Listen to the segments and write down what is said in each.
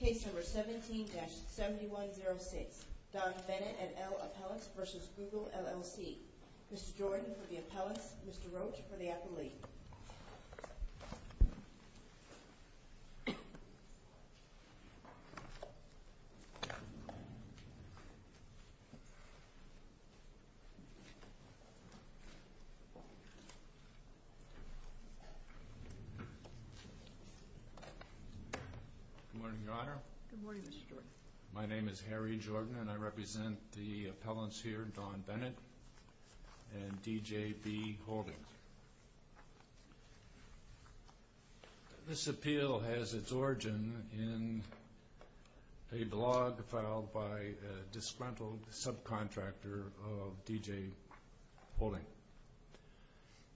Case number 17-7106, Don Bennett and Al Appellix v. Google LLC. Mr. Jordan for the Appellix, Mr. Roach for the Appellee. Good morning, Your Honor. Good morning, Mr. Jordan. My name is Harry Jordan and I represent the appellants here, Don Bennett and D.J. B. Holdings. This appeal has its origin in a blog filed by a disgruntled subcontractor of D.J. Holdings.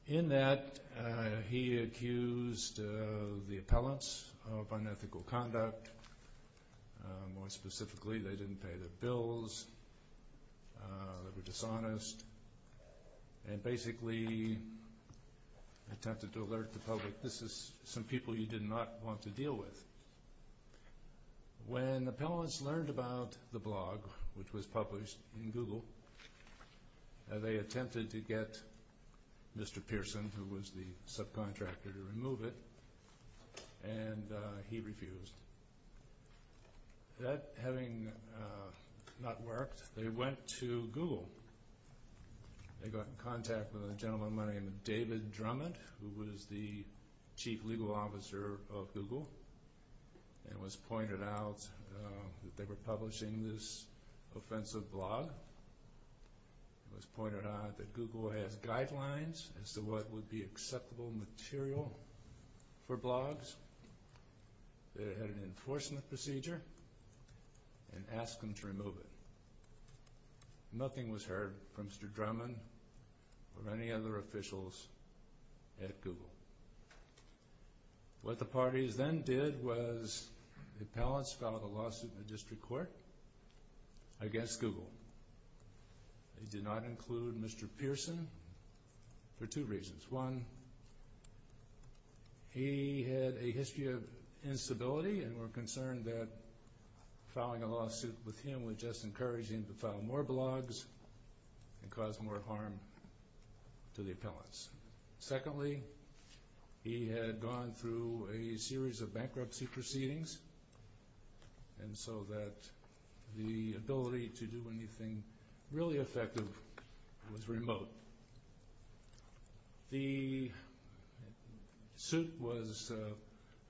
In that, he accused the appellants of unethical conduct. More specifically, they didn't pay their bills, they were dishonest, and basically attempted to alert the public, this is some people you did not want to deal with. When the appellants learned about the blog, which was published in Google, they attempted to get Mr. Pearson, who was the subcontractor, to remove it, and he refused. That having not worked, they went to Google. They got in contact with a gentleman by the name of David Drummond, who was the chief legal officer of Google, and it was pointed out that they were publishing this offensive blog. It was pointed out that Google has guidelines as to what would be acceptable material for blogs. They had an enforcement procedure and asked them to remove it. Nothing was heard from Mr. Drummond or any other officials at Google. What the parties then did was the appellants filed a lawsuit in the district court against Google. They did not include Mr. Pearson for two reasons. One, he had a history of instability and were concerned that filing a lawsuit with him would just encourage him to file more blogs and cause more harm to the appellants. Secondly, he had gone through a series of bankruptcy proceedings, and so that the ability to do anything really effective was remote. The suit was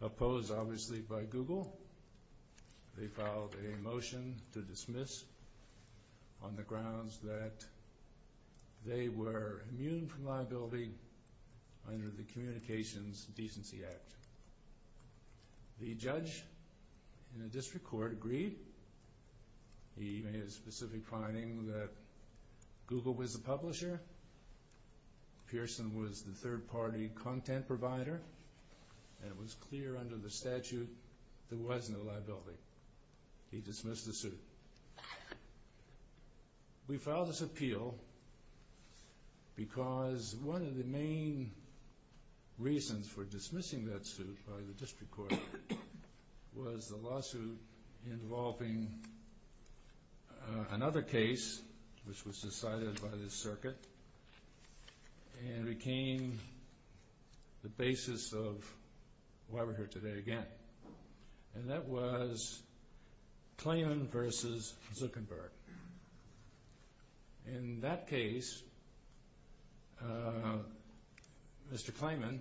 opposed, obviously, by Google. They filed a motion to dismiss on the grounds that they were immune from liability under the Communications Decency Act. The judge in the district court agreed. He made a specific finding that Google was the publisher, Pearson was the third-party content provider, and it was clear under the statute there was no liability. He dismissed the suit. We filed this appeal because one of the main reasons for dismissing that suit by the district court was the lawsuit involving another case which was decided by the circuit and became the basis of why we're here today again, and that was Clayman v. Zuckerberg. In that case, Mr. Clayman,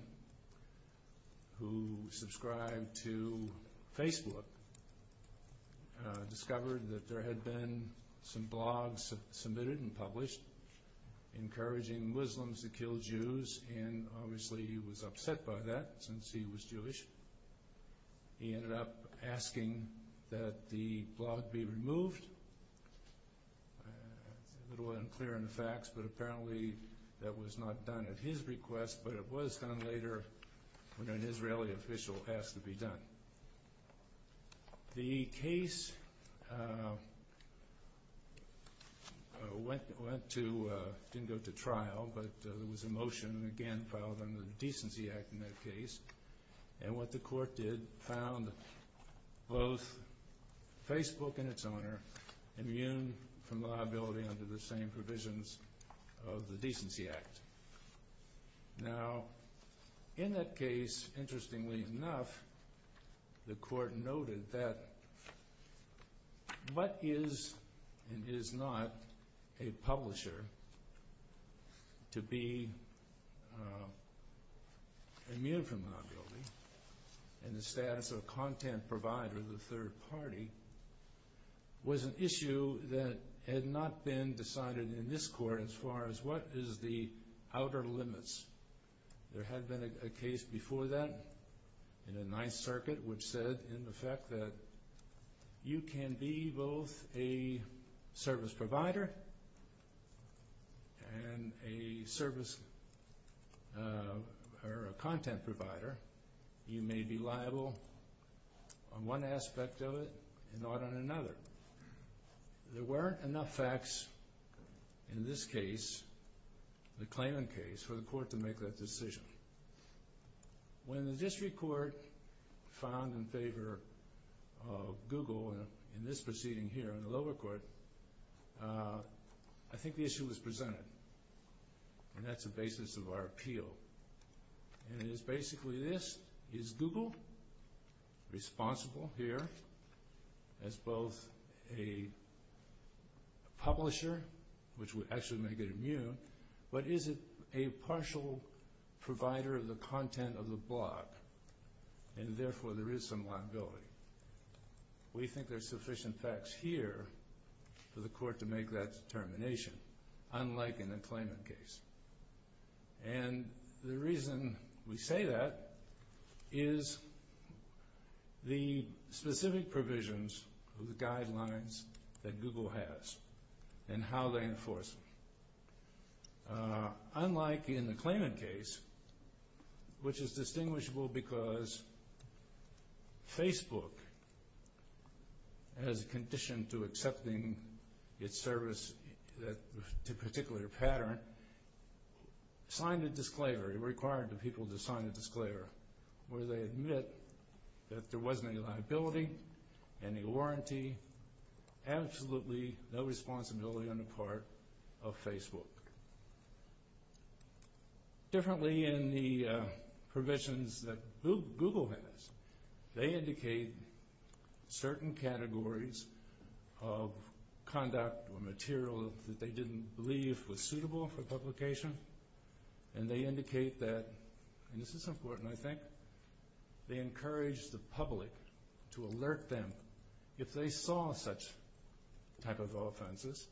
who subscribed to Facebook, discovered that there had been some blogs submitted and published encouraging Muslims to kill Jews, and obviously he was upset by that since he was Jewish. He ended up asking that the blog be removed. It's a little unclear in the facts, but apparently that was not done at his request, but it was done later when an Israeli official asked to be done. The case went to, didn't go to trial, but there was a motion again filed under the Decency Act in that case, and what the court did found both Facebook and its owner immune from liability under the same provisions of the Decency Act. Now, in that case, interestingly enough, the court noted that what is and is not a publisher to be immune from liability and the status of a content provider of the third party was an issue that had not been decided in this court as far as what is the outer limits. There had been a case before that in the Ninth Circuit, which said in effect that you can be both a service provider and a service or a content provider. You may be liable on one aspect of it and not on another. There weren't enough facts in this case, the claimant case, for the court to make that decision. When the district court found in favor of Google in this proceeding here in the lower court, I think the issue was presented, and that's the basis of our appeal. And it is basically this. Is Google responsible here as both a publisher, which would actually make it immune, but is it a partial provider of the content of the blog, and therefore there is some liability? We think there's sufficient facts here for the court to make that determination, unlike in the claimant case. And the reason we say that is the specific provisions of the guidelines that Google has and how they enforce them. Unlike in the claimant case, which is distinguishable because Facebook as a condition to accepting its service to a particular pattern, signed a disclaimer. It required the people to sign a disclaimer where they admit that there wasn't any liability, any warranty, absolutely no responsibility on the part of Facebook. Differently in the provisions that Google has, they indicate certain categories of conduct or material that they didn't believe was suitable for publication, and they indicate that, and this is important, I think, they encourage the public to alert them if they saw such type of offenses,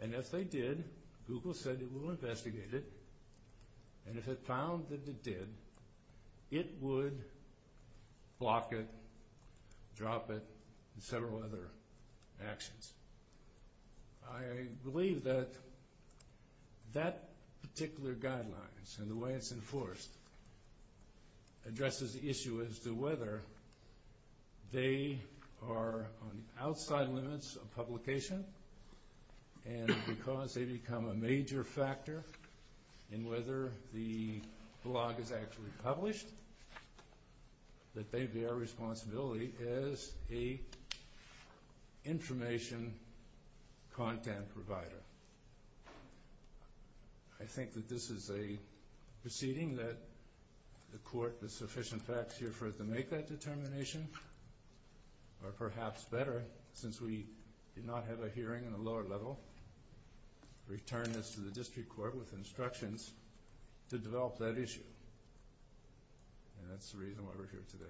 and if they did, Google said it will investigate it, and if it found that it did, it would block it, drop it, and several other actions. I believe that that particular guidelines and the way it's enforced addresses the issue as to whether they are on the outside limits of publication and because they become a major factor in whether the blog is actually published, that they bear responsibility as a information content provider. I think that this is a proceeding that the court with sufficient facts here for it to make that determination or perhaps better, since we did not have a hearing on the lower level, return this to the district court with instructions to develop that issue, and that's the reason why we're here today.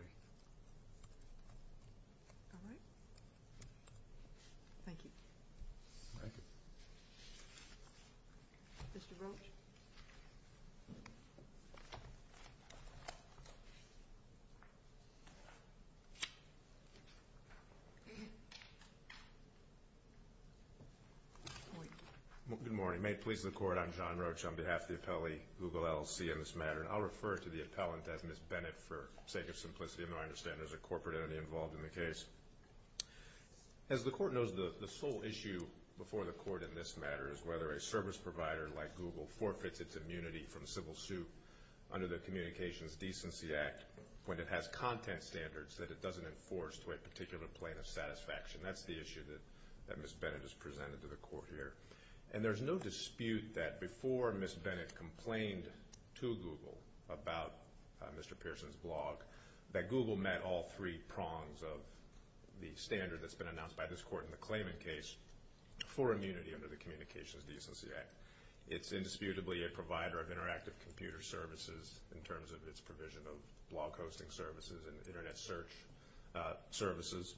All right. Thank you. Thank you. Mr. Branch? Good morning. May it please the Court, I'm John Roach on behalf of the appellee, Google LLC, in this matter, and I'll refer to the appellant as Ms. Bennett for sake of simplicity, and I understand there's a corporate entity involved in the case. As the court knows, the sole issue before the court in this matter is whether a service provider like Google forfeits its immunity from civil suit under the Communications Decency Act when it has content standards that it doesn't enforce to a particular plane of satisfaction. That's the issue that Ms. Bennett has presented to the court here. And there's no dispute that before Ms. Bennett complained to Google about Mr. Pearson's blog, that Google met all three prongs of the standard that's been announced by this court in the Clayman case for immunity under the Communications Decency Act. It's indisputably a provider of interactive computer services in terms of its provision of blog hosting services and Internet search services.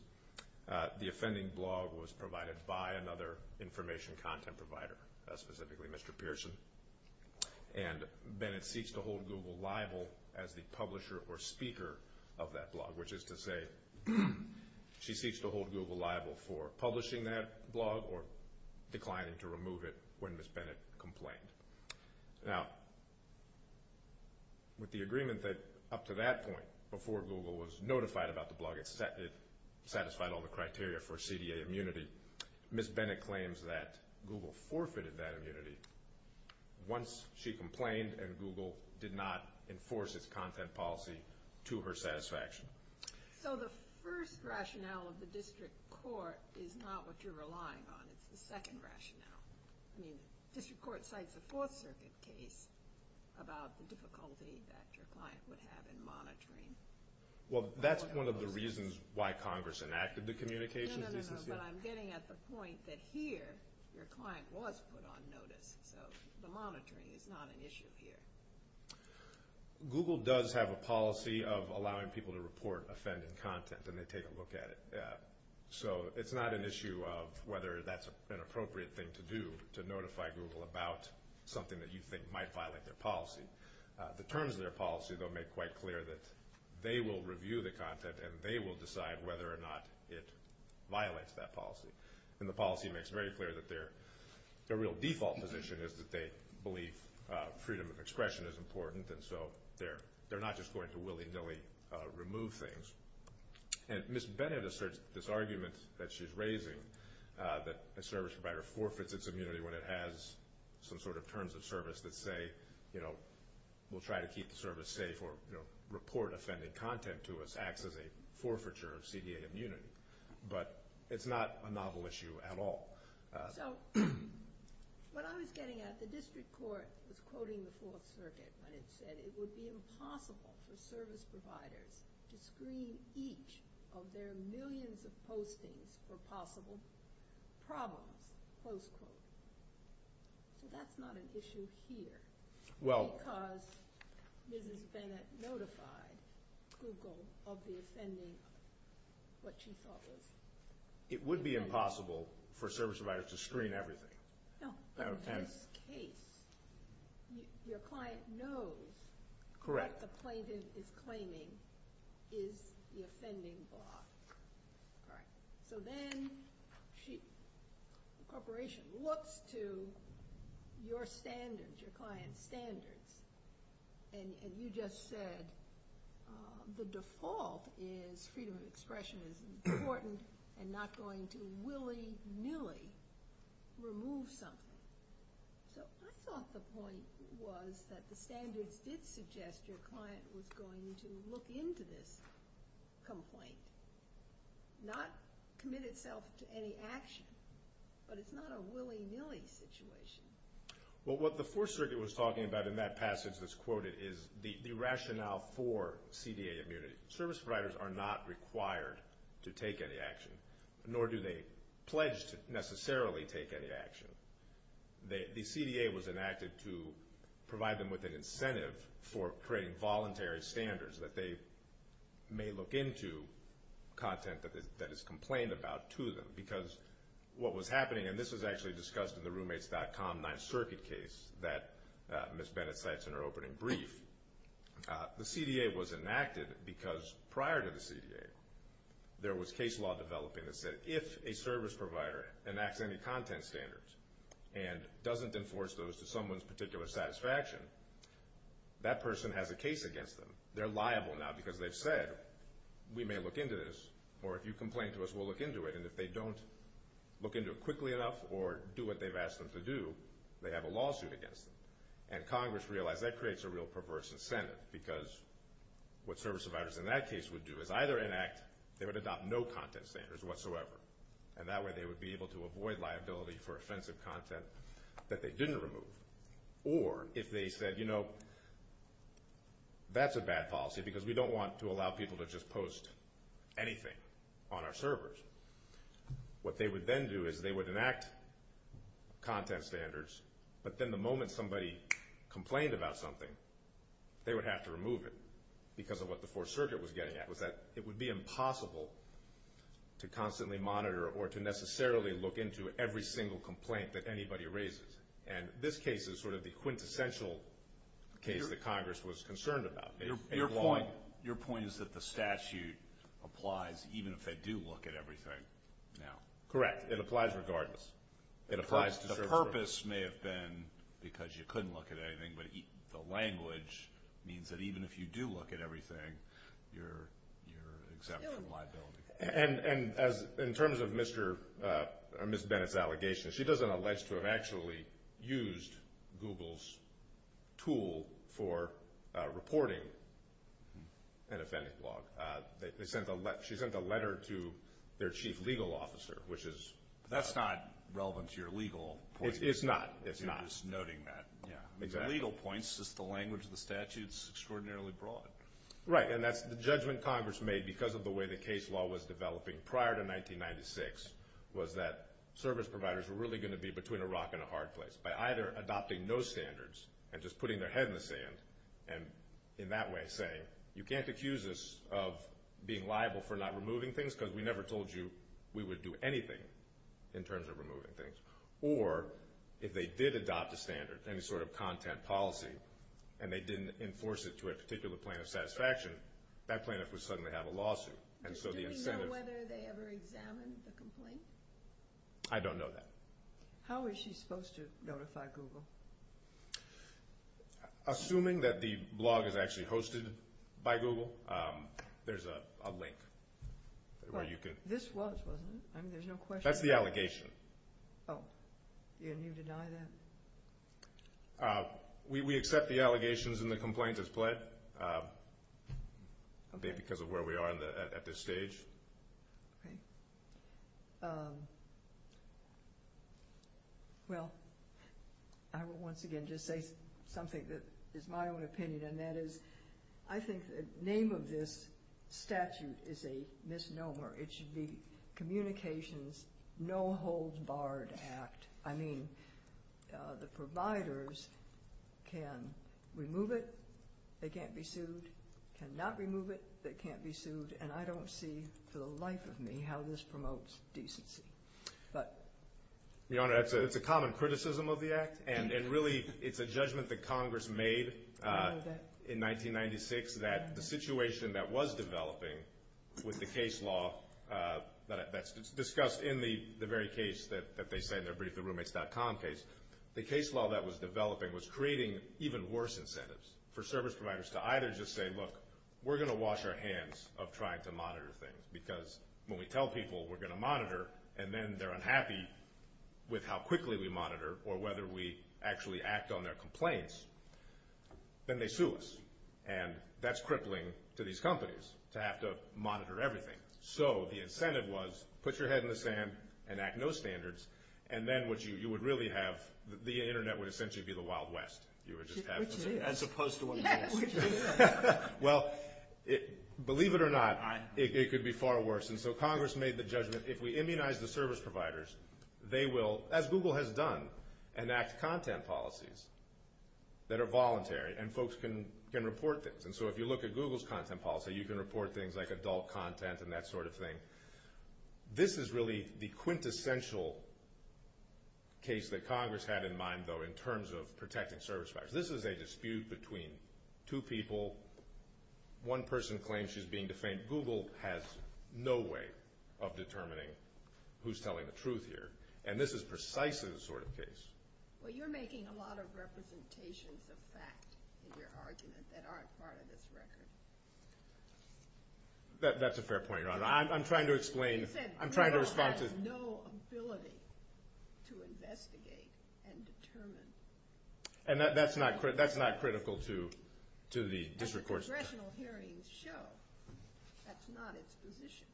The offending blog was provided by another information content provider, specifically Mr. Pearson. And Bennett seeks to hold Google liable as the publisher or speaker of that blog, which is to say she seeks to hold Google liable for publishing that blog or declining to remove it when Ms. Bennett complained. Now, with the agreement that up to that point, before Google was notified about the blog, it satisfied all the criteria for CDA immunity, Ms. Bennett claims that Google forfeited that immunity once she complained and Google did not enforce its content policy to her satisfaction. So the first rationale of the district court is not what you're relying on. It's the second rationale. I mean, district court cites a Fourth Circuit case about the difficulty that your client would have in monitoring. Well, that's one of the reasons why Congress enacted the Communications Decency Act. No, no, no, no, but I'm getting at the point that here your client was put on notice, so the monitoring is not an issue here. Google does have a policy of allowing people to report offending content, and they take a look at it. So it's not an issue of whether that's an appropriate thing to do, to notify Google about something that you think might violate their policy. The terms of their policy, though, make quite clear that they will review the content and they will decide whether or not it violates that policy. And the policy makes very clear that their real default position is that they believe freedom of expression is important, and so they're not just going to willy-nilly remove things. And Ms. Bennett asserts this argument that she's raising, that a service provider forfeits its immunity when it has some sort of terms of service that say, you know, we'll try to keep the service safe or report offending content to us acts as a forfeiture of CDA immunity. But it's not a novel issue at all. So what I was getting at, the district court was quoting the Fourth Circuit when it said it would be impossible for service providers to screen each of their millions of postings for possible problems, close quote. So that's not an issue here. Because Mrs. Bennett notified Google of the offending, what she thought was. It would be impossible for service providers to screen everything. No, but in this case, your client knows what the plaintiff is claiming is the offending block. All right. So then the corporation looks to your standards, your client's standards, and you just said the default is freedom of expression is important and not going to willy-nilly remove something. So I thought the point was that the standards did suggest your client was going to look into this complaint, not commit itself to any action. But it's not a willy-nilly situation. Well, what the Fourth Circuit was talking about in that passage that's quoted is the rationale for CDA immunity. Service providers are not required to take any action, nor do they pledge to necessarily take any action. The CDA was enacted to provide them with an incentive for creating voluntary standards that they may look into content that is complained about to them. Because what was happening, and this was actually discussed in the Roommates.com 9th Circuit case that Mrs. Bennett cites in her opening brief, the CDA was enacted because prior to the CDA there was case law developing that said if a service provider enacts any content standards and doesn't enforce those to someone's particular satisfaction, that person has a case against them. They're liable now because they've said we may look into this, or if you complain to us, we'll look into it. And if they don't look into it quickly enough or do what they've asked them to do, they have a lawsuit against them. And Congress realized that creates a real perverse incentive because what service providers in that case would do is either enact, they would adopt no content standards whatsoever, and that way they would be able to avoid liability for offensive content that they didn't remove. Or if they said, you know, that's a bad policy because we don't want to allow people to just post anything on our servers. What they would then do is they would enact content standards, but then the moment somebody complained about something, they would have to remove it because of what the Fourth Circuit was getting at was that it would be impossible to constantly monitor or to necessarily look into every single complaint that anybody raises. And this case is sort of the quintessential case that Congress was concerned about. Your point is that the statute applies even if they do look at everything now. Correct. It applies regardless. The purpose may have been because you couldn't look at anything, but the language means that even if you do look at everything, you're exempt from liability. And in terms of Ms. Bennett's allegations, she doesn't allege to have actually used Google's tool for reporting an offending blog. She sent a letter to their chief legal officer, which is— That's not relevant to your legal point. It's not. It's not. You're just noting that. Yeah. The legal point is just the language of the statute is extraordinarily broad. Right, and that's the judgment Congress made because of the way the case law was developing prior to 1996 was that service providers were really going to be between a rock and a hard place by either adopting no standards and just putting their head in the sand and in that way saying you can't accuse us of being liable for not removing things because we never told you we would do anything in terms of removing things. Or if they did adopt a standard, any sort of content policy, and they didn't enforce it to a particular point of satisfaction, that plaintiff would suddenly have a lawsuit. Do we know whether they ever examined the complaint? I don't know that. How is she supposed to notify Google? Assuming that the blog is actually hosted by Google, there's a link. This was, wasn't it? There's no question. That's the allegation. Oh, and you deny that? We accept the allegations and the complaint is pled because of where we are at this stage. Well, I will once again just say something that is my own opinion, and that is I think the name of this statute is a misnomer. It should be Communications No Holds Barred Act. I mean, the providers can remove it, they can't be sued, cannot remove it, they can't be sued, and I don't see for the life of me how this promotes decency. And really it's a judgment that Congress made in 1996 that the situation that was developing with the case law that's discussed in the very case that they said, the BriefTheRoommates.com case, the case law that was developing was creating even worse incentives for service providers to either just say, look, we're going to wash our hands of trying to monitor things because when we tell people we're going to monitor and then they're unhappy with how quickly we monitor or whether we actually act on their complaints, then they sue us. And that's crippling to these companies to have to monitor everything. So the incentive was put your head in the sand and act no standards, and then what you would really have, the Internet would essentially be the Wild West. You would just have to see it. As opposed to what it is. Well, believe it or not, it could be far worse. And so Congress made the judgment if we immunize the service providers, they will, as Google has done, enact content policies that are voluntary and folks can report things. And so if you look at Google's content policy, you can report things like adult content and that sort of thing. This is really the quintessential case that Congress had in mind, though, in terms of protecting service providers. This is a dispute between two people. One person claims she's being defamed. And Google has no way of determining who's telling the truth here. And this is precisely the sort of case. Well, you're making a lot of representations of fact in your argument that aren't part of this record. That's a fair point, Your Honor. I'm trying to explain. You said Google has no ability to investigate and determine. And that's not critical to the district courts. Congressional hearings show that's not its position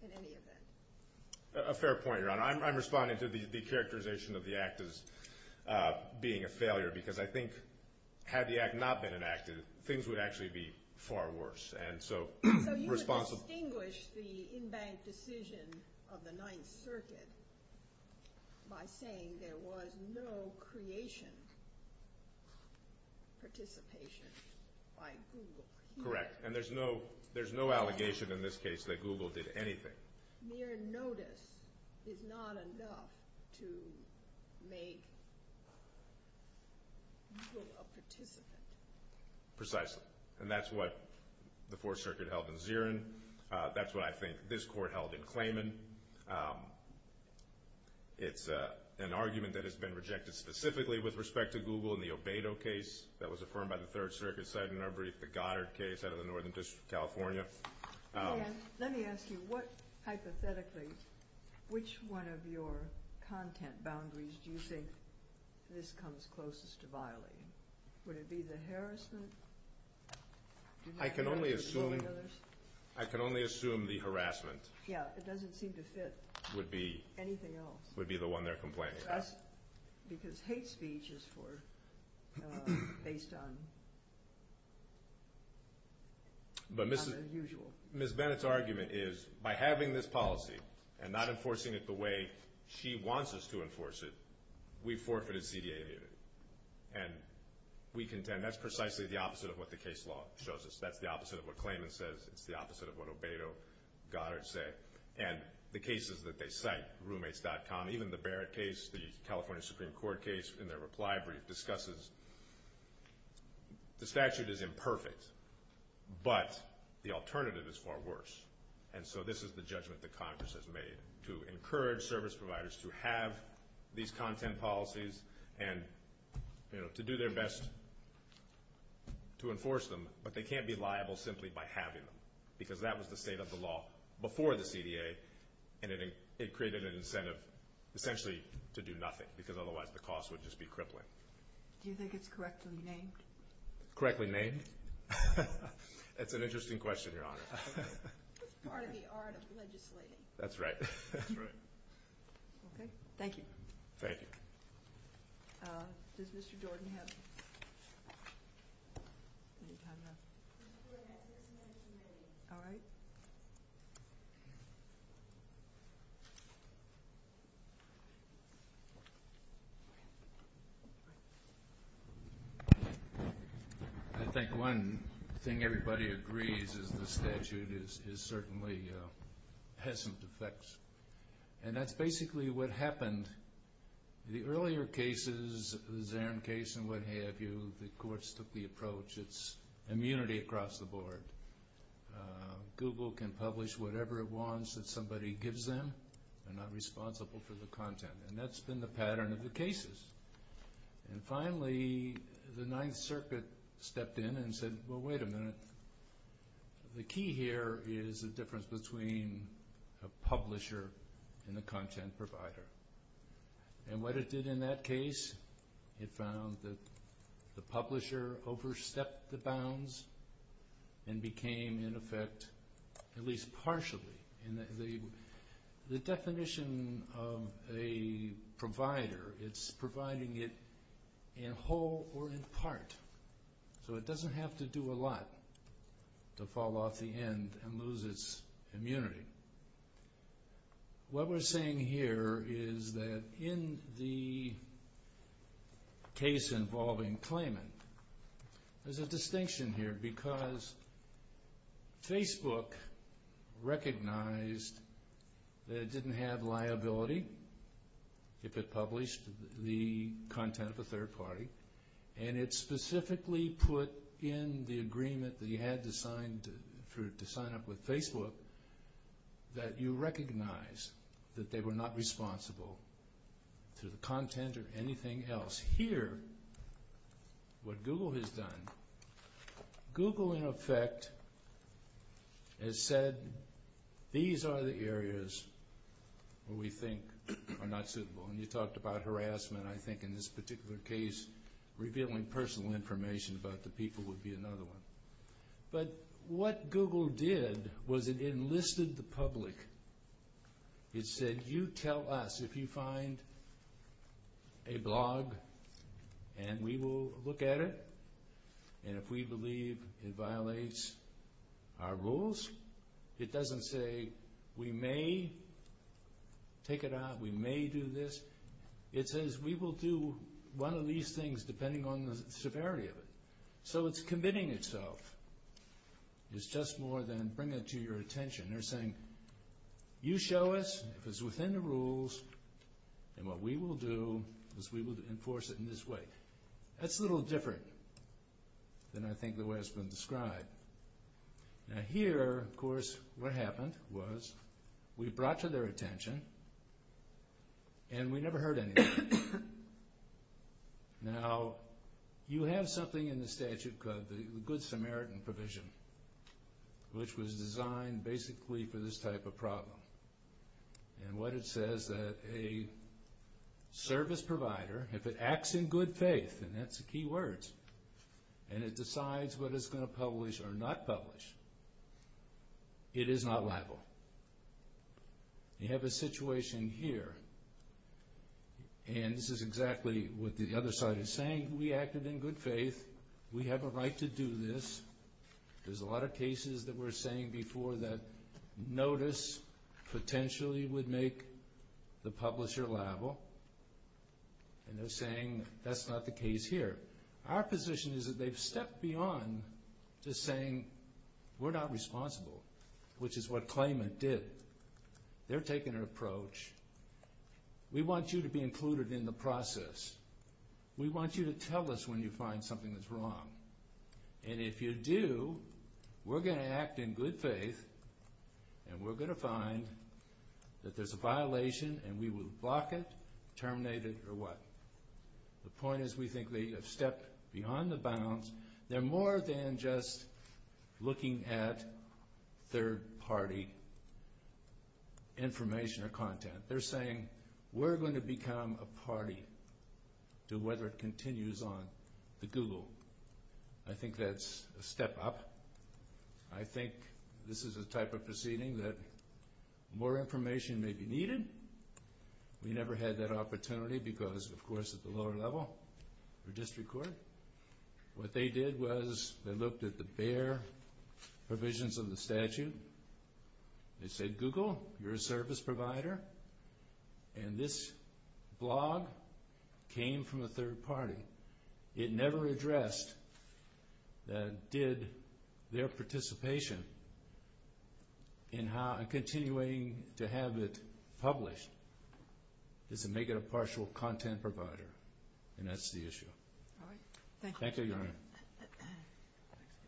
in any event. A fair point, Your Honor. I'm responding to the characterization of the act as being a failure because I think had the act not been enacted, things would actually be far worse. So you would distinguish the in-bank decision of the Ninth Circuit by saying there was no creation, participation by Google. Correct. And there's no allegation in this case that Google did anything. Mere notice is not enough to make Google a participant. Precisely. And that's what the Fourth Circuit held in Zierin. That's what I think this court held in Clayman. It's an argument that has been rejected specifically with respect to Google in the Obedo case that was affirmed by the Third Circuit side in our brief, the Goddard case out of the Northern District of California. Let me ask you, hypothetically, which one of your content boundaries do you think this comes closest to violating? Would it be the harassment? I can only assume the harassment would be the one they're complaining about. Because hate speech is based on unusual. But Ms. Bennett's argument is by having this policy and not enforcing it the way she wants us to enforce it, we forfeited CDA immunity. And we contend that's precisely the opposite of what the case law shows us. That's the opposite of what Clayman says. It's the opposite of what Obedo, Goddard say. And the cases that they cite, Roommates.com, even the Barrett case, the California Supreme Court case in their reply brief, discusses the statute is imperfect, but the alternative is far worse. And so this is the judgment that Congress has made, to encourage service providers to have these content policies and to do their best to enforce them, but they can't be liable simply by having them. Because that was the state of the law before the CDA, and it created an incentive essentially to do nothing, because otherwise the cost would just be crippling. Do you think it's correctly named? Correctly named? That's an interesting question, Your Honor. It's part of the art of legislating. That's right. That's right. Okay. Thank you. Thank you. Does Mr. Jordan have any time left? Mr. Jordan has just one more minute. All right. Thank you. I think one thing everybody agrees is the statute certainly has some defects. And that's basically what happened. The earlier cases, the Zarin case and what have you, the courts took the approach it's immunity across the board. Google can publish whatever it wants that somebody gives them. They're not responsible for the content. And that's been the pattern of the cases. And finally, the Ninth Circuit stepped in and said, well, wait a minute, the key here is the difference between a publisher and a content provider. And what it did in that case, it found that the publisher overstepped the bounds and became, in effect, at least partially. The definition of a provider, it's providing it in whole or in part. So it doesn't have to do a lot to fall off the end and lose its immunity. What we're saying here is that in the case involving claimant, there's a distinction here because Facebook recognized that it didn't have liability if it published the content of a third party. And it specifically put in the agreement that you had to sign up with Facebook that you recognize that they were not responsible for the content or anything else. Here, what Google has done, Google, in effect, has said, these are the areas where we think are not suitable. And you talked about harassment, I think, in this particular case, revealing personal information about the people would be another one. But what Google did was it enlisted the public. It said, you tell us if you find a blog and we will look at it. And if we believe it violates our rules, it doesn't say, we may take it out, we may do this. It says, we will do one of these things depending on the severity of it. So it's committing itself. It's just more than bringing it to your attention. They're saying, you show us, if it's within the rules, then what we will do is we will enforce it in this way. That's a little different than I think the way it's been described. Now here, of course, what happened was we brought to their attention and we never heard anything. Now, you have something in the statute called the Good Samaritan Provision, which was designed basically for this type of problem. And what it says, that a service provider, if it acts in good faith, and that's the key words, and it decides what it's going to publish or not publish, it is not liable. You have a situation here. And this is exactly what the other side is saying. We acted in good faith. We have a right to do this. There's a lot of cases that we're saying before that notice potentially would make the publisher liable. And they're saying that's not the case here. Our position is that they've stepped beyond just saying we're not responsible, which is what claimant did. They're taking an approach. We want you to be included in the process. We want you to tell us when you find something that's wrong. And if you do, we're going to act in good faith and we're going to find that there's a violation and we will block it, terminate it, or what. The point is we think they have stepped beyond the bounds. They're more than just looking at third-party information or content. They're saying we're going to become a party to whether it continues on the Google. I think that's a step up. I think this is the type of proceeding that more information may be needed. We never had that opportunity because, of course, at the lower level, the district court, what they did was they looked at the bare provisions of the statute. They said, Google, you're a service provider, and this blog came from a third party. It never addressed that did their participation and continuing to have it published is to make it a partial content provider, and that's the issue. Thank you.